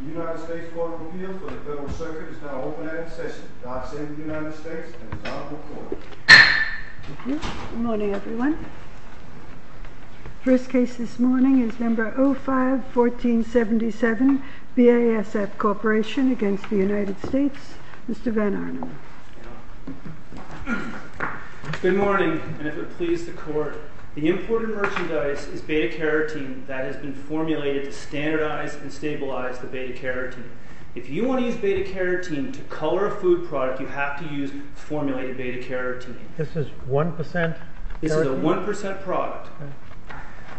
The United States Court of Appeals for the Federal Circuit is now open at its session. I send the United States and the Honorable Court. Good morning, and if it please the Court, the imported merchandise is beta-carotene that has been formulated to standardize and stabilize the beta-carotene. If you want to use beta-carotene to color a food product, you have to use formulated beta-carotene. This is 1% carotene? This is a 1% product.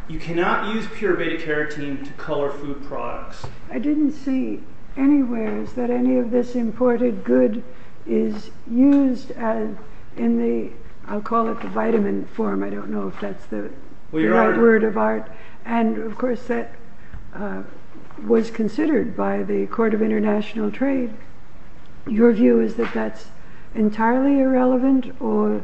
You cannot use pure beta-carotene to color food products. I didn't see anywhere that any of this imported good is used in the, I'll call it the vitamin form. I don't know if that's the right word of art. And of course that was considered by the Court of International Trade. Your view is that that's entirely irrelevant or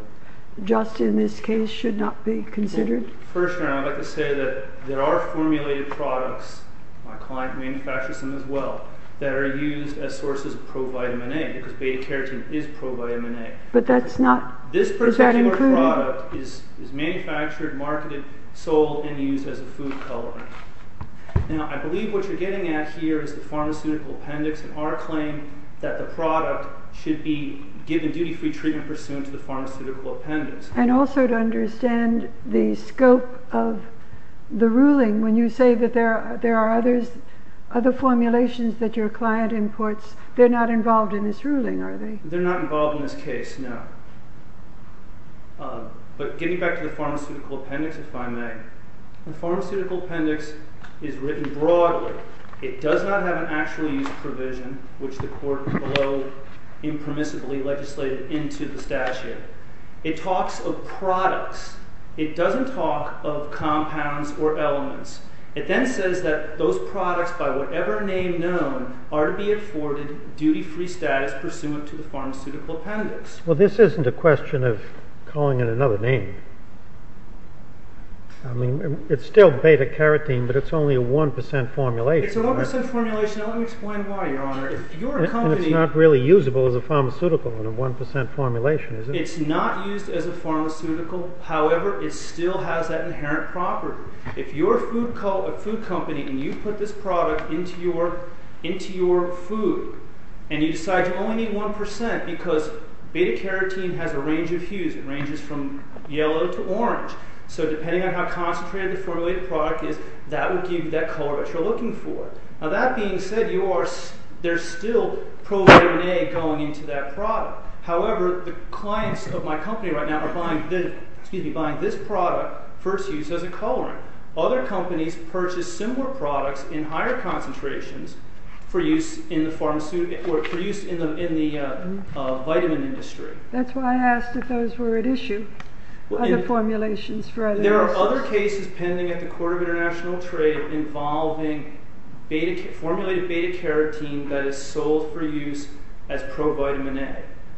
just in this case should not be considered? First Your Honor, I'd like to say that there are formulated products, my client manufactures them as well, that are used as sources of pro-vitamin A because beta-carotene is pro-vitamin A. But that's not, is that included? This particular product is manufactured, marketed, sold, and used as a food colorant. Now I believe what you're getting at here is the pharmaceutical appendix and our claim that the product should be given duty-free treatment pursuant to the pharmaceutical appendix. And also to understand the scope of the ruling when you say that there are other formulations that your client imports. They're not involved in this ruling, are they? They're not involved in this case, no. But getting back to the pharmaceutical appendix, if I may. The pharmaceutical appendix is written broadly. It does not have an actual use provision, which the Court below impermissibly legislated into the statute. It talks of products. It doesn't talk of compounds or elements. It then says that those products, by whatever name known, are to be afforded duty-free status pursuant to the pharmaceutical appendix. Well, this isn't a question of calling it another name. I mean, it's still beta-carotene, but it's only a 1% formulation. It's a 1% formulation. Now let me explain why, Your Honor. And it's not really usable as a pharmaceutical in a 1% formulation, is it? It's not used as a pharmaceutical. However, it still has that inherent property. If you're a food company and you put this product into your food and you decide you only need 1% because beta-carotene has a range of hues. It ranges from yellow to orange. So depending on how concentrated the formulated product is, that would give you that color that you're looking for. Now that being said, there's still pro-vitamin A going into that product. However, the clients of my company right now are buying this product for its use as a colorant. Other companies purchase similar products in higher concentrations for use in the vitamin industry. That's why I asked if those were at issue, other formulations for other uses. And there are other cases pending at the Court of International Trade involving formulated beta-carotene that is sold for use as pro-vitamin A.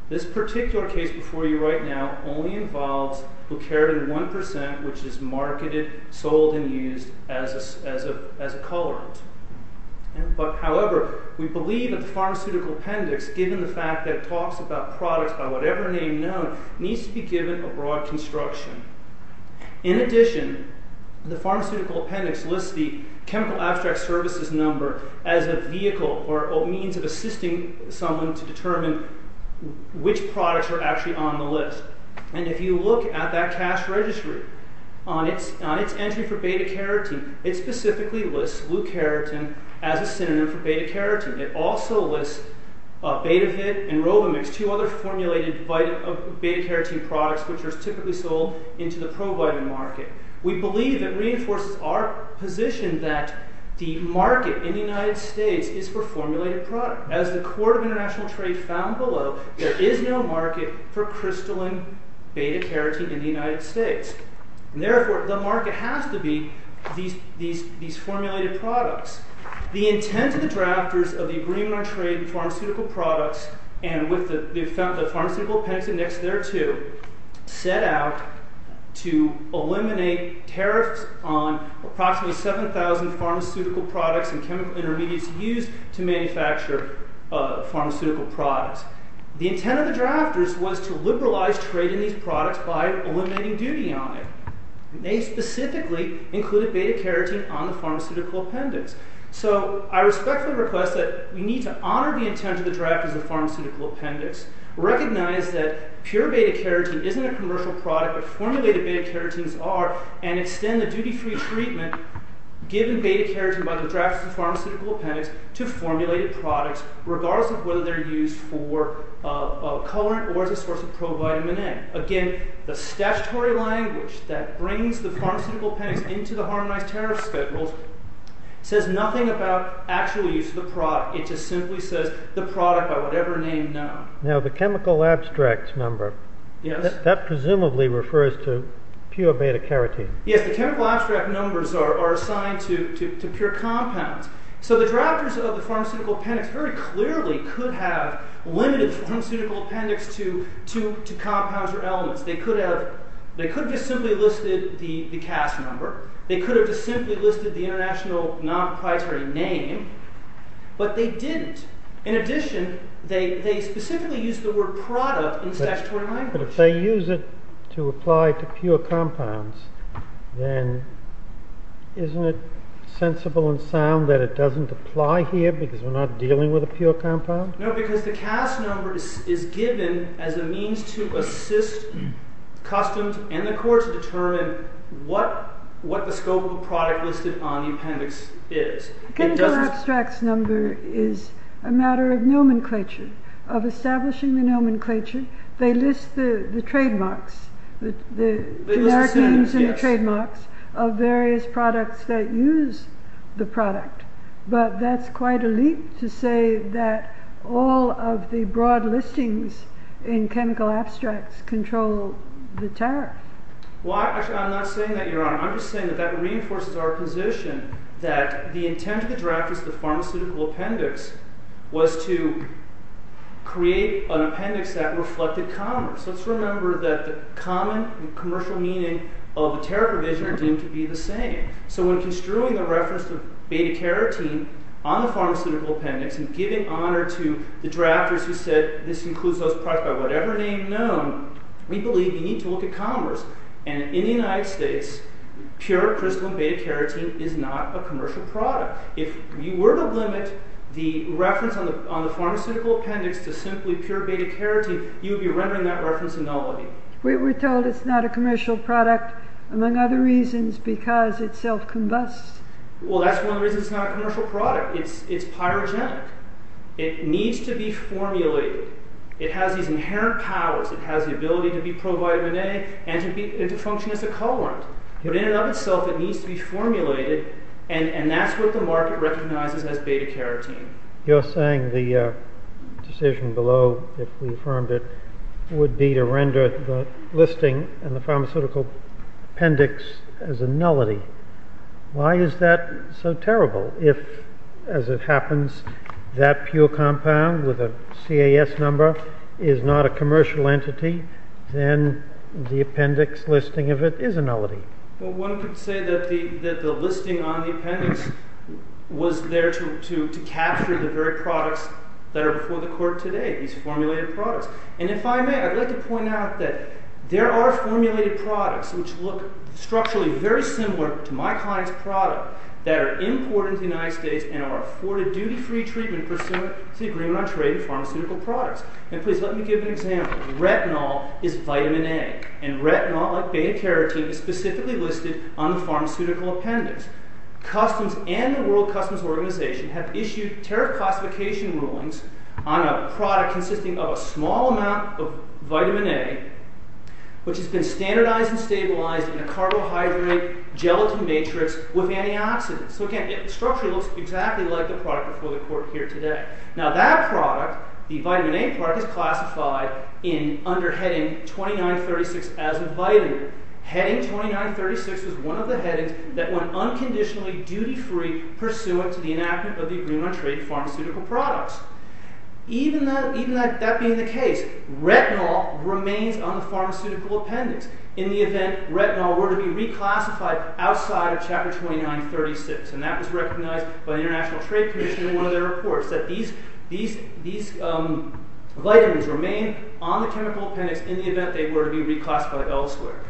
This particular case before you right now only involves glucaritin 1%, which is marketed, sold, and used as a colorant. However, we believe that the pharmaceutical appendix, given the fact that it talks about products by whatever name known, needs to be given a broad construction. In addition, the pharmaceutical appendix lists the chemical abstract services number as a vehicle or a means of assisting someone to determine which products are actually on the list. And if you look at that cash registry, on its entry for beta-carotene, it specifically lists glucaritin as a synonym for beta-carotene. It also lists Betavit and Robimix, two other formulated beta-carotene products which are typically sold into the pro-vitamin market. We believe it reinforces our position that the market in the United States is for formulated products. As the Court of International Trade found below, there is no market for crystalline beta-carotene in the United States. Therefore, the market has to be these formulated products. The intent of the drafters of the Agreement on Trade in Pharmaceutical Products, and with the pharmaceutical appendix next thereto, set out to eliminate tariffs on approximately 7,000 pharmaceutical products and chemical intermediates used to manufacture pharmaceutical products. The intent of the drafters was to liberalize trade in these products by eliminating duty on it. They specifically included beta-carotene on the pharmaceutical appendix. So, I respectfully request that we need to honor the intent of the drafters of the pharmaceutical appendix, recognize that pure beta-carotene isn't a commercial product, but formulated beta-carotenes are, and extend the duty-free treatment given beta-carotene by the drafters of the pharmaceutical appendix to formulated products, regardless of whether they're used for a colorant or as a source of pro-vitamin A. Again, the statutory language that brings the pharmaceutical appendix into the Harmonized Tariff Schedules says nothing about actual use of the product. It just simply says, the product by whatever name, now. Now, the chemical abstracts number, that presumably refers to pure beta-carotene. Yes, the chemical abstract numbers are assigned to pure compounds. So, the drafters of the pharmaceutical appendix very clearly could have limited the pharmaceutical appendix to compounds or elements. They could have just simply listed the cast number. They could have just simply listed the international non-proprietary name. But they didn't. In addition, they specifically used the word product in the statutory language. But if they use it to apply to pure compounds, then isn't it sensible and sound that it doesn't apply here because we're not dealing with a pure compound? No, because the cast number is given as a means to assist customs and the court to determine what the scope of the product listed on the appendix is. The chemical abstracts number is a matter of nomenclature, of establishing the nomenclature. They list the trademarks, the carotenes and the trademarks of various products that use the product. But that's quite a leap to say that all of the broad listings in chemical abstracts control the tariff. Well, actually, I'm not saying that, Your Honor. I'm just saying that that reinforces our position that the intent of the drafters of the pharmaceutical appendix was to create an appendix that reflected commerce. Let's remember that the common commercial meaning of the tariff provision are deemed to be the same. So when construing the reference to beta-carotene on the pharmaceutical appendix and giving honor to the drafters who said this includes those products by whatever name known, we believe we need to look at commerce. And in the United States, pure crystalline beta-carotene is not a commercial product. If you were to limit the reference on the pharmaceutical appendix to simply pure beta-carotene, you would be rendering that reference a nullity. We were told it's not a commercial product, among other reasons, because it self-combusts. Well, that's one of the reasons it's not a commercial product. It's pyrogenic. It needs to be formulated. It has these inherent powers. It has the ability to be pro-vitamin A and to function as a colorant. But in and of itself, it needs to be formulated, and that's what the market recognizes as beta-carotene. You're saying the decision below, if we affirmed it, would be to render the listing in the pharmaceutical appendix as a nullity. Why is that so terrible? If, as it happens, that pure compound with a CAS number is not a commercial entity, then the appendix listing of it is a nullity. Well, one could say that the listing on the appendix was there to capture the very products that are before the court today, these formulated products. And if I may, I'd like to point out that there are formulated products, which look structurally very similar to my client's product, that are imported into the United States and are afforded duty-free treatment pursuant to the Agreement on Trade in Pharmaceutical Products. And please let me give an example. Retinol is vitamin A, and retinol, like beta-carotene, is specifically listed on the pharmaceutical appendix. Customs and the World Customs Organization have issued tariff classification rulings on a product consisting of a small amount of vitamin A, which has been standardized and stabilized in a carbohydrate-gelatin matrix with antioxidants. So again, it structurally looks exactly like the product before the court here today. Now, that product, the vitamin A product, is classified under heading 2936 as a vitamin. Heading 2936 is one of the headings that went unconditionally duty-free pursuant to the enactment of the Agreement on Trade in Pharmaceutical Products. Even that being the case, retinol remains on the pharmaceutical appendix in the event that retinol were to be reclassified outside of chapter 2936. And that was recognized by the International Trade Commission in one of their reports, that these vitamins remain on the chemical appendix in the event that they were to be reclassified elsewhere.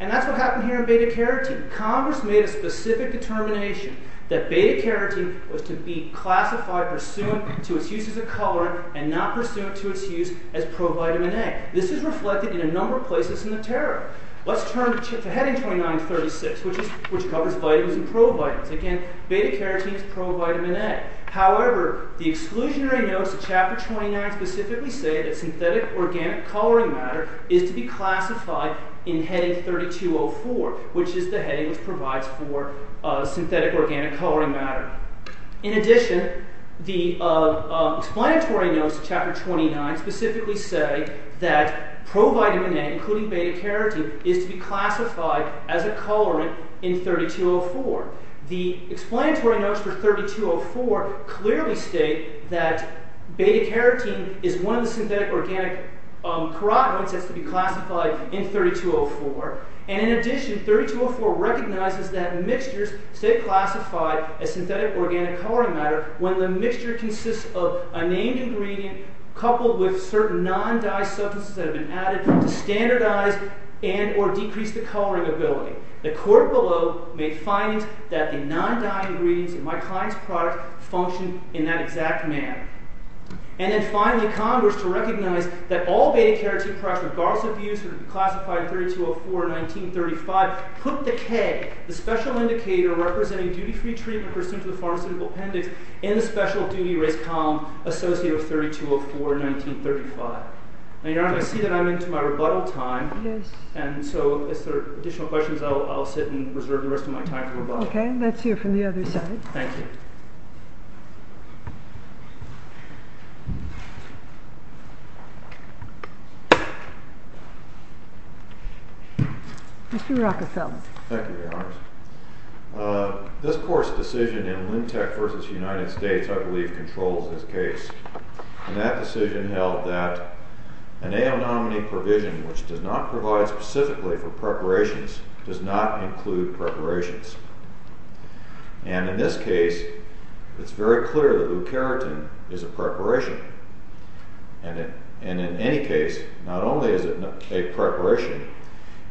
And that's what happened here in beta-carotene. Congress made a specific determination that beta-carotene was to be classified pursuant to its use as a colorant and not pursuant to its use as pro-vitamin A. This is reflected in a number of places in the tariff. Let's turn to heading 2936, which covers vitamins and pro-vitamins. Again, beta-carotene is pro-vitamin A. However, the exclusionary notes of chapter 29 specifically say that synthetic organic coloring matter is to be classified in heading 3204, which is the heading which provides for synthetic organic coloring matter. In addition, the explanatory notes of chapter 29 specifically say that pro-vitamin A, including beta-carotene, is to be classified as a colorant in 3204. The explanatory notes for 3204 clearly state that beta-carotene is one of the synthetic organic carotenoids that's to be classified in 3204. And in addition, 3204 recognizes that mixtures stay classified as synthetic organic coloring matter when the mixture consists of a named ingredient coupled with certain non-dye substances that have been added to standardize and or decrease the coloring ability. The court below made findings that the non-dye ingredients in my client's product function in that exact manner. And then finally, Congress, to recognize that all beta-carotene products, regardless of use, are to be classified in 3204 or 1935, put the K, the special indicator representing duty-free treatment pursuant to the pharmaceutical appendix, in the special duty race column associated with 3204 or 1935. Now, Your Honor, I see that I'm into my rebuttal time. Yes. And so if there are additional questions, I'll sit and reserve the rest of my time for rebuttal. Okay. Let's hear from the other side. Thank you. Mr. Rockefeller. Thank you, Your Honor. This court's decision in Lintek v. United States, I believe, controls this case. And that decision held that an a-anomany provision which does not provide specifically for preparations does not include preparations. And in this case, it's very clear that leukerotin is a preparation. And it—and in any case, not only is it a preparation,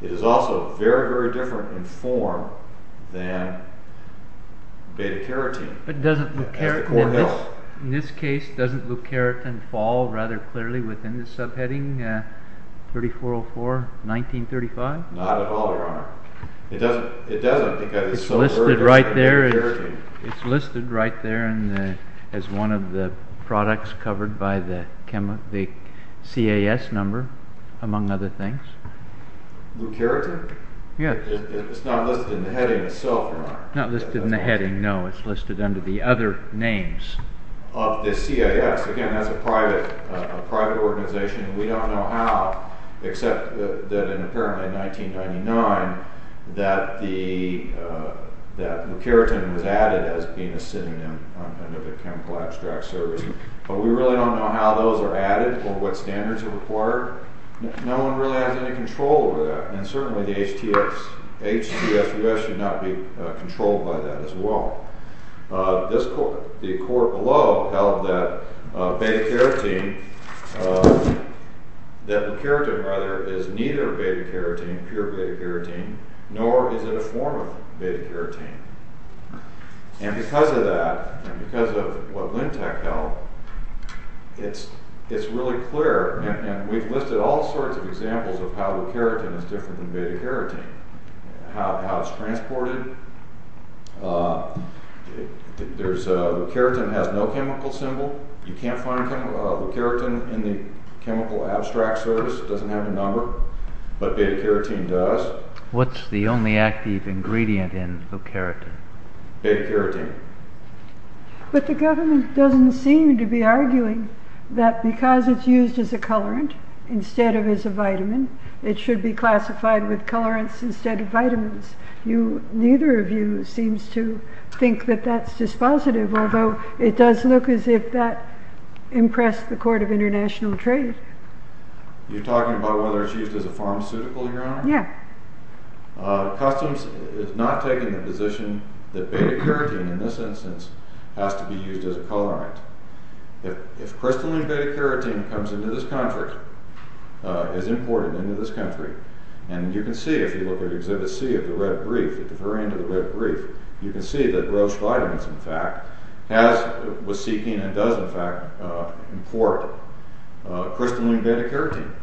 it is also very, very different in form than beta-carotene. It doesn't— As the court held. In this case, doesn't leukerotin fall rather clearly within the subheading 3404, 1935? Not at all, Your Honor. It doesn't—it doesn't because it's so— It's listed right there as— Beta-carotene. Numbered by the chemo—the CAS number, among other things. Leukerotin? Yes. It's not listed in the heading itself, Your Honor? Not listed in the heading, no. It's listed under the other names. Of the CAS. Again, that's a private—a private organization. We don't know how, except that in—apparently in 1999, that the—that leukerotin was added as being a synonym under the chemical abstract service. But we really don't know how those are added or what standards are required. No one really has any control over that. And certainly the HTS—H-T-S-U-S should not be controlled by that as well. This court—the court below held that beta-carotene—that leukerotin, rather, is neither beta-carotene, pure beta-carotene, nor is it a form of beta-carotene. And because of that, and because of what Lintek held, it's really clear—and we've listed all sorts of examples of how leukerotin is different than beta-carotene. How it's transported. There's—leukerotin has no chemical symbol. You can't find leukerotin in the chemical abstract service. It doesn't have a number. But beta-carotene does. What's the only active ingredient in leukerotin? Beta-carotene. But the government doesn't seem to be arguing that because it's used as a colorant instead of as a vitamin, it should be classified with colorants instead of vitamins. You—neither of you seems to think that that's dispositive, although it does look as if that impressed the Court of International Trade. You're talking about whether it's used as a pharmaceutical, Your Honor? Yeah. Customs is not taking the position that beta-carotene, in this instance, has to be used as a colorant. If crystalline beta-carotene comes into this country, is imported into this country, and you can see if you look at Exhibit C of the red brief, at the very end of the red brief, you can see that Roche Vitamins, in fact, has—was seeking and does, in fact, import crystalline beta-carotene.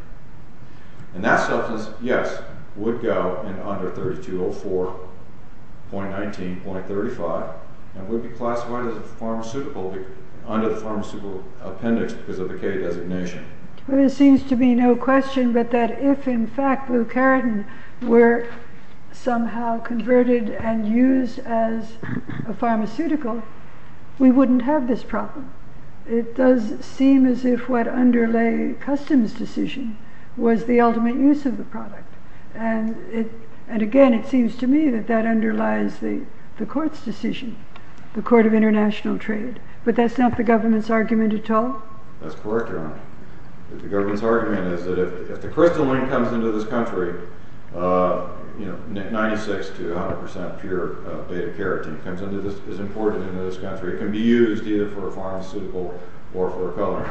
And that substance, yes, would go in under 3204.19.35 and would be classified as a pharmaceutical under the pharmaceutical appendix because of the K designation. Well, there seems to be no question but that if, in fact, leukerotin were somehow converted and used as a pharmaceutical, we wouldn't have this problem. It does seem as if what underlay Customs' decision was the ultimate use of the product. And again, it seems to me that that underlies the Court's decision, the Court of International Trade. But that's not the government's argument at all? That's correct, Your Honor. The government's argument is that if the crystalline comes into this country, you know, 96 to 100 percent pure beta-carotene comes into this—is imported into this country, it can be used either for a pharmaceutical or for a coloring.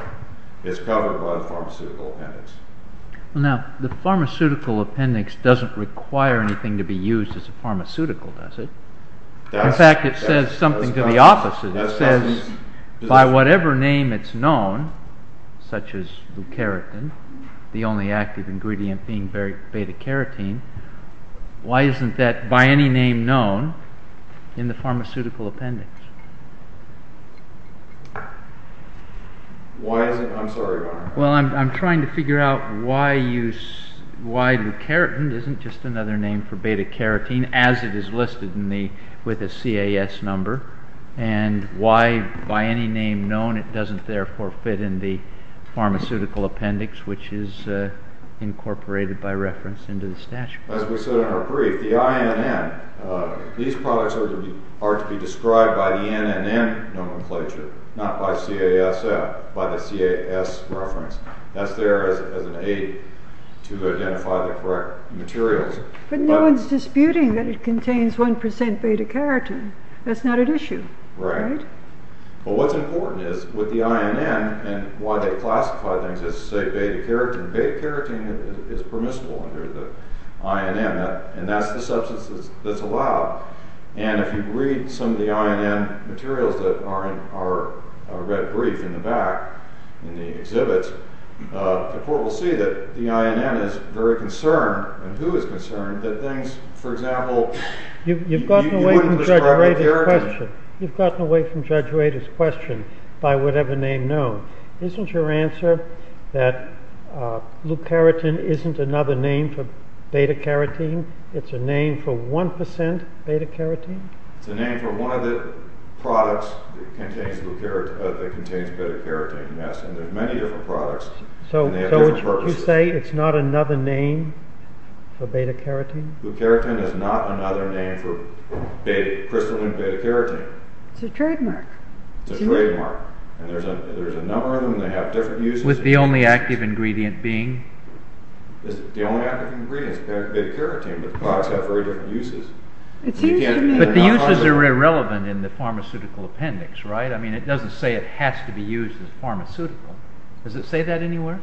It's covered by the pharmaceutical appendix. Now, the pharmaceutical appendix doesn't require anything to be used as a pharmaceutical, does it? In fact, it says something to the opposite. It says, by whatever name it's known, such as leukerotin, the only active ingredient being beta-carotene, why isn't that, by any name known, in the pharmaceutical appendix? Why isn't—I'm sorry, Your Honor. Well, I'm trying to figure out why leukerotin isn't just another name for beta-carotene, as it is listed with a CAS number, and why, by any name known, it doesn't therefore fit in the pharmaceutical appendix, which is incorporated by reference into the statute. As we said in our brief, the INN, these products are to be described by the NNN nomenclature, not by CASF, by the CAS reference. That's there as an aid to identify the correct materials. But no one's disputing that it contains 1% beta-carotene. That's not at issue. Right. Right? Well, what's important is, with the INN, and why they classify things as, say, beta-carotene, beta-carotene is permissible under the INN, and that's the substance that's allowed. And if you read some of the INN materials that are in our red brief in the back, in the exhibits, the court will see that the INN is very concerned, and who is concerned, that things, for example— You've gotten away from Judge Wadey's question. You've gotten away from Judge Wadey's question, by whatever name known. Isn't your answer that leukerotin isn't another name for beta-carotene? It's a name for 1% beta-carotene? It's a name for one of the products that contains beta-carotene, yes, and there's many different products, and they have different purposes. So you say it's not another name for beta-carotene? Leukerotin is not another name for crystalline beta-carotene. It's a trademark. It's a trademark. And there's a number of them, and they have different uses. With the only active ingredient being? The only active ingredient is beta-carotene, but the products have very different uses. But the uses are irrelevant in the pharmaceutical appendix, right? I mean, it doesn't say it has to be used as pharmaceutical. Does it say that anywhere?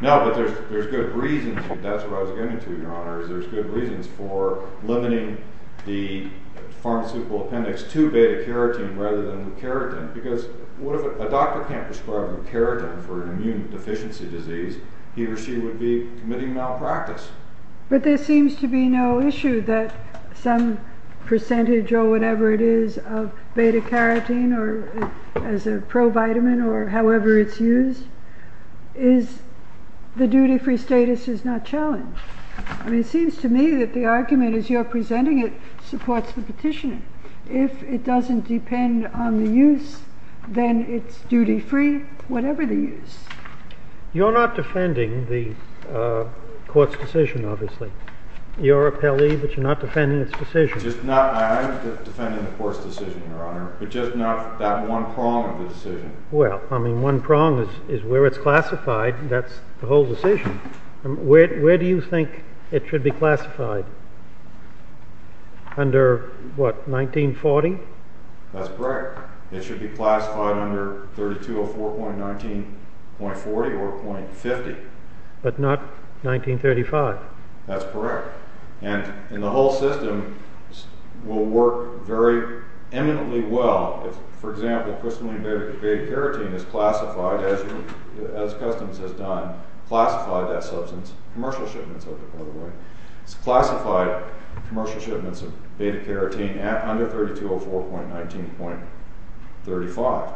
No, but there's good reasons, and that's what I was getting to, Your Honor, is there's good reasons for limiting the pharmaceutical appendix to beta-carotene rather than leukerotin, because what if a doctor can't prescribe leukerotin for an immune deficiency disease? He or she would be committing malpractice. But there seems to be no issue that some percentage or whatever it is of beta-carotene or as a pro-vitamin or however it's used is the duty-free status is not challenged. I mean, it seems to me that the argument as you're presenting it supports the petitioner. If it doesn't depend on the use, then it's duty-free, whatever the use. You're not defending the court's decision, obviously. You're a Pele, but you're not defending its decision. I am defending the court's decision, Your Honor, but just not that one prong of the decision. Well, I mean, one prong is where it's classified, and that's the whole decision. Where do you think it should be classified? Under what, 1940? That's correct. It should be classified under 3204.19.40 or .50. But not 1935. That's correct. And the whole system will work very eminently well if, for example, crystalline beta-carotene is classified as Customs has done, classified that substance, commercial shipments of it, by the way. It's classified commercial shipments of beta-carotene under 3204.19.35.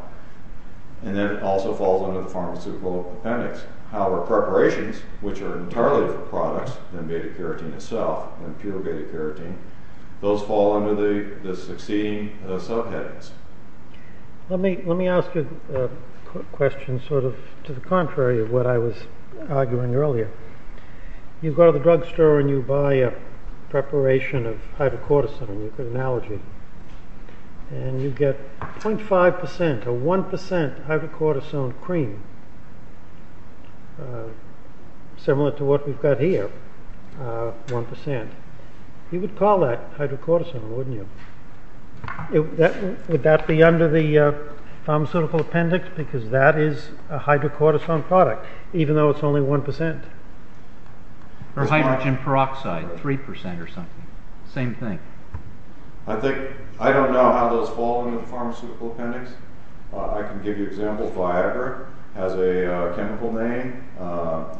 And then it also falls under the pharmaceutical appendix. However, preparations, which are entirely for products and beta-carotene itself, and pure beta-carotene, those fall under the succeeding subheadings. Let me ask you a question sort of to the contrary of what I was arguing earlier. You go to the drugstore and you buy a preparation of hydrocortisone, and you get 0.5% or 1% hydrocortisone cream, similar to what we've got here, 1%. You would call that hydrocortisone, wouldn't you? Would that be under the pharmaceutical appendix because that is a hydrocortisone product, even though it's only 1%? Or hydrogen peroxide, 3% or something. Same thing. I don't know how those fall under the pharmaceutical appendix. I can give you examples. Viagra has a chemical name.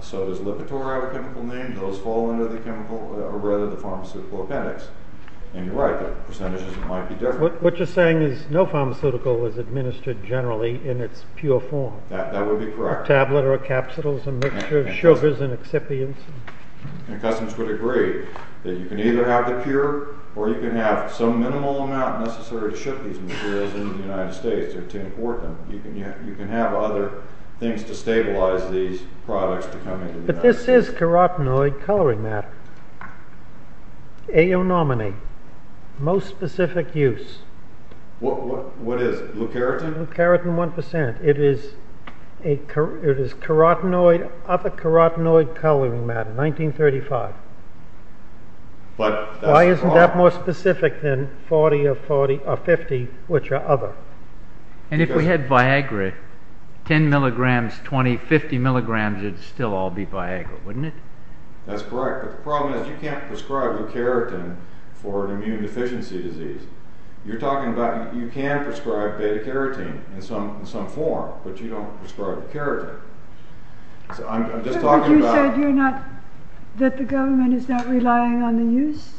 So does Lipitor have a chemical name. Those fall under the pharmaceutical appendix. And you're right, the percentages might be different. What you're saying is no pharmaceutical is administered generally in its pure form. That would be correct. A tablet or a capsule is a mixture of sugars and excipients. Customers would agree that you can either have the pure or you can have some minimal amount necessary to ship these materials into the United States to import them. You can have other things to stabilize these products to come into the United States. But this is carotenoid coloring matter, aonominate, most specific use. What is it, leucaritin? Leucaritin 1%. It is carotenoid, other carotenoid coloring matter, 1935. Why isn't that more specific than 40 or 50, which are other? And if we had Viagra, 10 mg, 20, 50 mg would still all be Viagra, wouldn't it? That's correct, but the problem is you can't prescribe leucaritin for an immune deficiency disease. You're talking about you can prescribe beta-carotene in some form, but you don't prescribe carotene. But you said that the government is not relying on the use?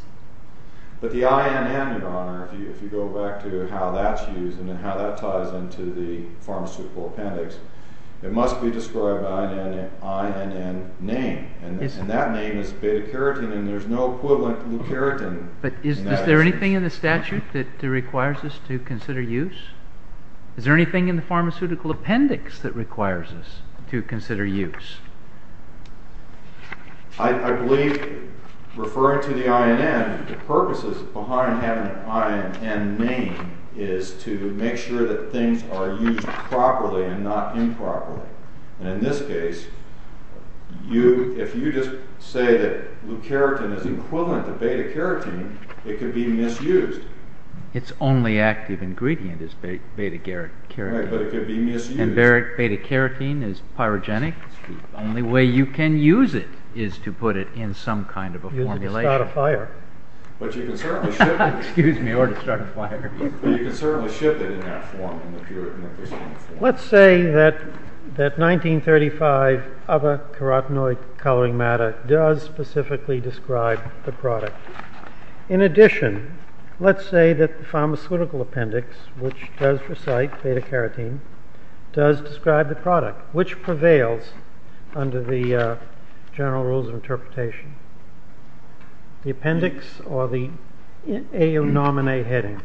But the INN, Your Honor, if you go back to how that's used and how that ties into the pharmaceutical appendix, it must be described by an INN name, and that name is beta-carotene, and there's no equivalent to leucaritin. But is there anything in the statute that requires us to consider use? Is there anything in the pharmaceutical appendix that requires us to consider use? I believe, referring to the INN, the purposes behind having an INN name is to make sure that things are used properly and not improperly. And in this case, if you just say that leucaritin is equivalent to beta-carotene, it could be misused. Its only active ingredient is beta-carotene. Right, but it could be misused. And beta-carotene is pyrogenic. The only way you can use it is to put it in some kind of a formulation. Use a de-statifier. But you can certainly ship it. Excuse me, or de-statifier. But you can certainly ship it in that form, in the pure nucleosome form. Let's say that 1935 abacarotenoid coloring matter does specifically describe the product. In addition, let's say that the pharmaceutical appendix, which does recite beta-carotene, does describe the product, which prevails under the general rules of interpretation. The appendix or the aonominate heading?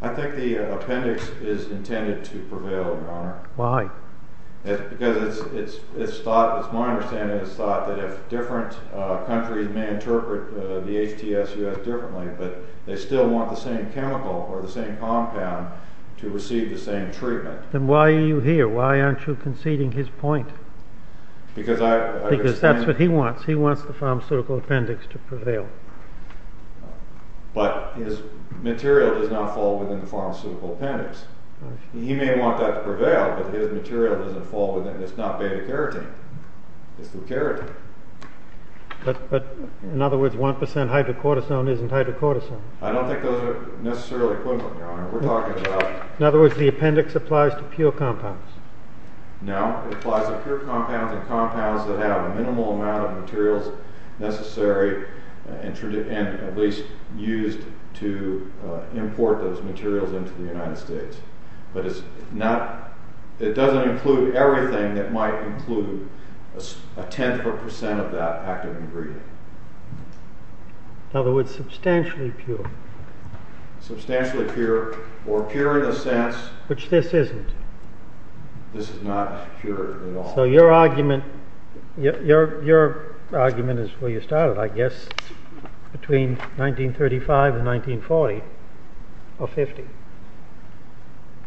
I think the appendix is intended to prevail, Your Honor. Why? Because it's thought, it's my understanding, it's thought that if different countries may interpret the HTS-US differently, but they still want the same chemical or the same compound to receive the same treatment. Then why are you here? Why aren't you conceding his point? Because I understand... Because that's what he wants. He wants the pharmaceutical appendix to prevail. But his material does not fall within the pharmaceutical appendix. He may want that to prevail, but his material doesn't fall within. It's not beta-carotene. It's the carotene. But, in other words, 1% hydrocortisone isn't hydrocortisone. I don't think those are necessarily equivalent, Your Honor. We're talking about... In other words, the appendix applies to pure compounds. No, it applies to pure compounds and compounds that have a minimal amount of materials necessary and at least used to import those materials into the United States. But it's not, it doesn't include everything that might include a tenth or percent of that active ingredient. In other words, substantially pure. Substantially pure, or pure in the sense... Which this isn't. This is not pure at all. So your argument, your argument is where you started, I guess, between 1935 and 1940, or 50.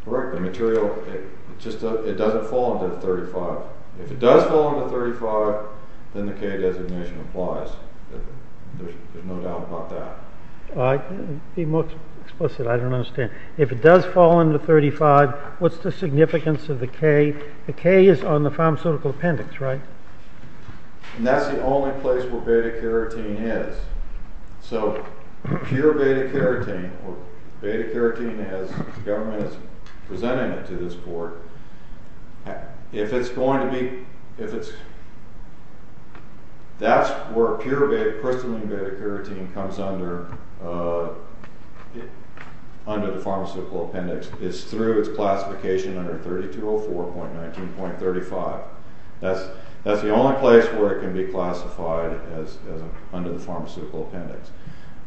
Correct. The material, it just doesn't fall under 35. If it does fall under 35, then the K designation applies. There's no doubt about that. Be more explicit, I don't understand. If it does fall under 35, what's the significance of the K? The K is on the pharmaceutical appendix, right? And that's the only place where beta-carotene is. So, pure beta-carotene, or beta-carotene as the government is presenting it to this court, if it's going to be... That's where crystalline beta-carotene comes under the pharmaceutical appendix. It's through its classification under 3204.19.35. That's the only place where it can be classified under the pharmaceutical appendix.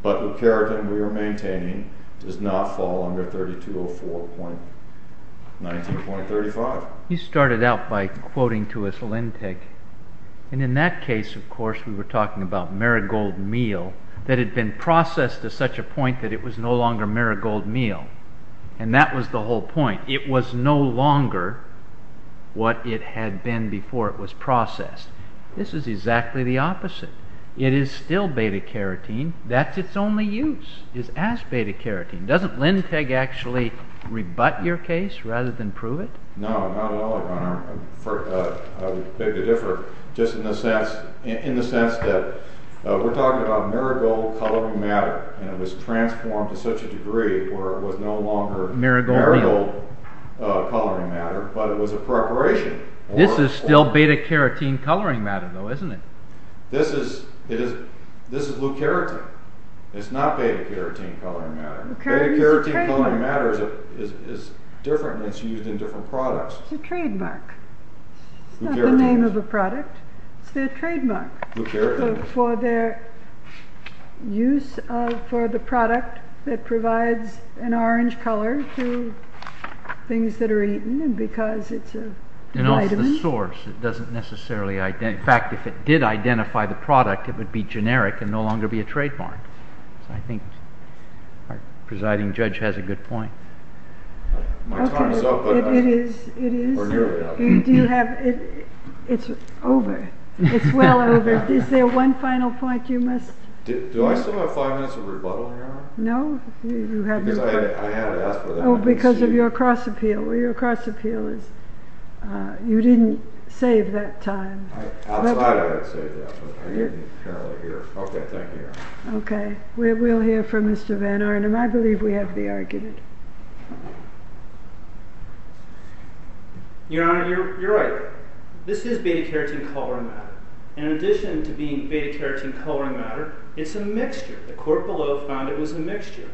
But the carotene we are maintaining does not fall under 3204.19.35. You started out by quoting to us Lentig. And in that case, of course, we were talking about marigold meal that had been processed to such a point that it was no longer marigold meal. And that was the whole point. It was no longer what it had been before it was processed. This is exactly the opposite. It is still beta-carotene. That's its only use, is as beta-carotene. Doesn't Lentig actually rebut your case rather than prove it? No, not at all, Your Honor. I would beg to differ. Just in the sense that we're talking about marigold coloring matter and it was transformed to such a degree where it was no longer marigold coloring matter, but it was a preparation. This is still beta-carotene coloring matter, though, isn't it? This is leucarotene. It's not beta-carotene coloring matter. Beta-carotene coloring matter is different and it's used in different products. It's a trademark. It's not the name of a product. It's their trademark for their use for the product that provides an orange color to things that are eaten because it's a vitamin. It's the source. In fact, if it did identify the product, it would be generic and no longer be a trademark. I think our presiding judge has a good point. My time is up. It is. It's over. It's well over. Is there one final point you must make? Do I still have five minutes of rebuttal, Your Honor? No. Because I had to ask for that. Oh, because of your cross-appeal. Your cross-appeal is you didn't save that time. Outside I had saved that, but I didn't apparently here. Okay, thank you, Your Honor. We'll hear from Mr. Van Arnam. I believe we have the argument. Your Honor, you're right. This is beta-carotene coloring matter. In addition to being beta-carotene coloring matter, it's a mixture. The court below found it was a mixture.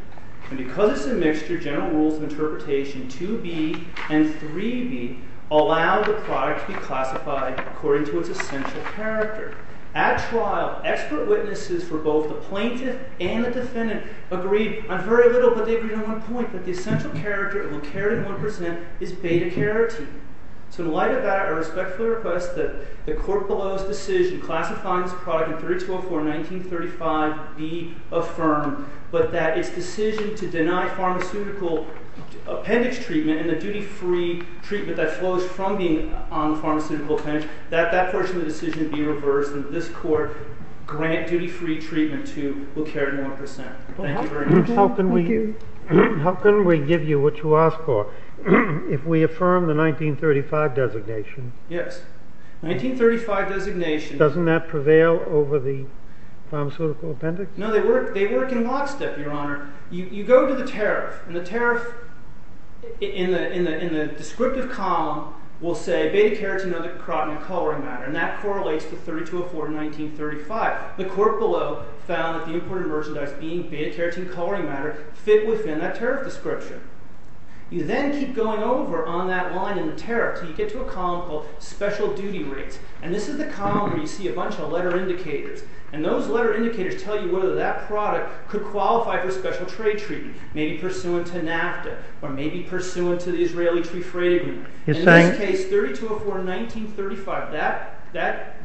And because it's a mixture, general rules of interpretation 2B and 3B allow the product to be classified according to its essential character. At trial, expert witnesses for both the plaintiff and the defendant agreed on very little, but they agreed on one point, that the essential character of a carotene 1% is beta-carotene. So in light of that, I respectfully request that the court below's decision classifying this product in 3204 and 1935 be affirmed, but that its decision to deny pharmaceutical appendix treatment and the duty-free treatment that flows from being on the pharmaceutical appendix, that that portion of the decision be reversed, and that this court grant duty-free treatment to LeClerc 1%. Thank you very much. How can we give you what you asked for if we affirm the 1935 designation? Yes. 1935 designation. Doesn't that prevail over the pharmaceutical appendix? No, they work in lockstep, Your Honor. You go to the tariff, and the tariff in the descriptive column will say beta-carotene of the carotene coloring matter, and that correlates to 3204 and 1935. The court below found that the imported merchandise being beta-carotene coloring matter fit within that tariff description. You then keep going over on that line in the tariff until you get to a column called special duty rates, and this is the column where you see a bunch of letter indicators, and those letter indicators tell you whether that product could qualify for special trade treatment, maybe pursuant to NAFTA or maybe pursuant to the Israeli Free Trade Agreement. In this case, 3204 and 1935, that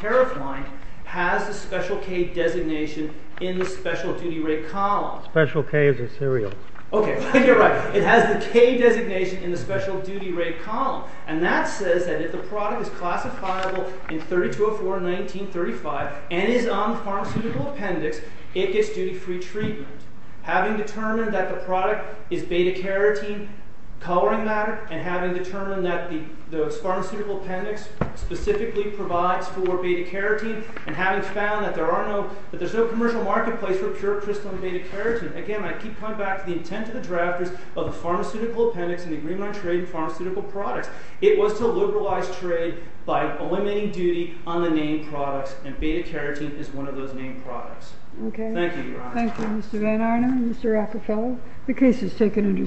tariff line has the special K designation in the special duty rate column. Special K is a serial. Okay, you're right. It has the K designation in the special duty rate column, and that says that if the product is classifiable in 3204 and 1935 and is on the pharmaceutical appendix, it gets duty-free treatment. Having determined that the product is beta-carotene coloring matter and having determined that the pharmaceutical appendix specifically provides for beta-carotene and having found that there's no commercial marketplace for pure crystalline beta-carotene. Again, I keep coming back to the intent of the drafters of the pharmaceutical appendix in the Agreement on Trade in Pharmaceutical Products. It was to liberalize trade by eliminating duty on the named products, and beta-carotene is one of those named products. Okay. Thank you, Your Honor. Thank you, Mr. Van Arnam and Mr. Rockefeller. The case is taken into submission.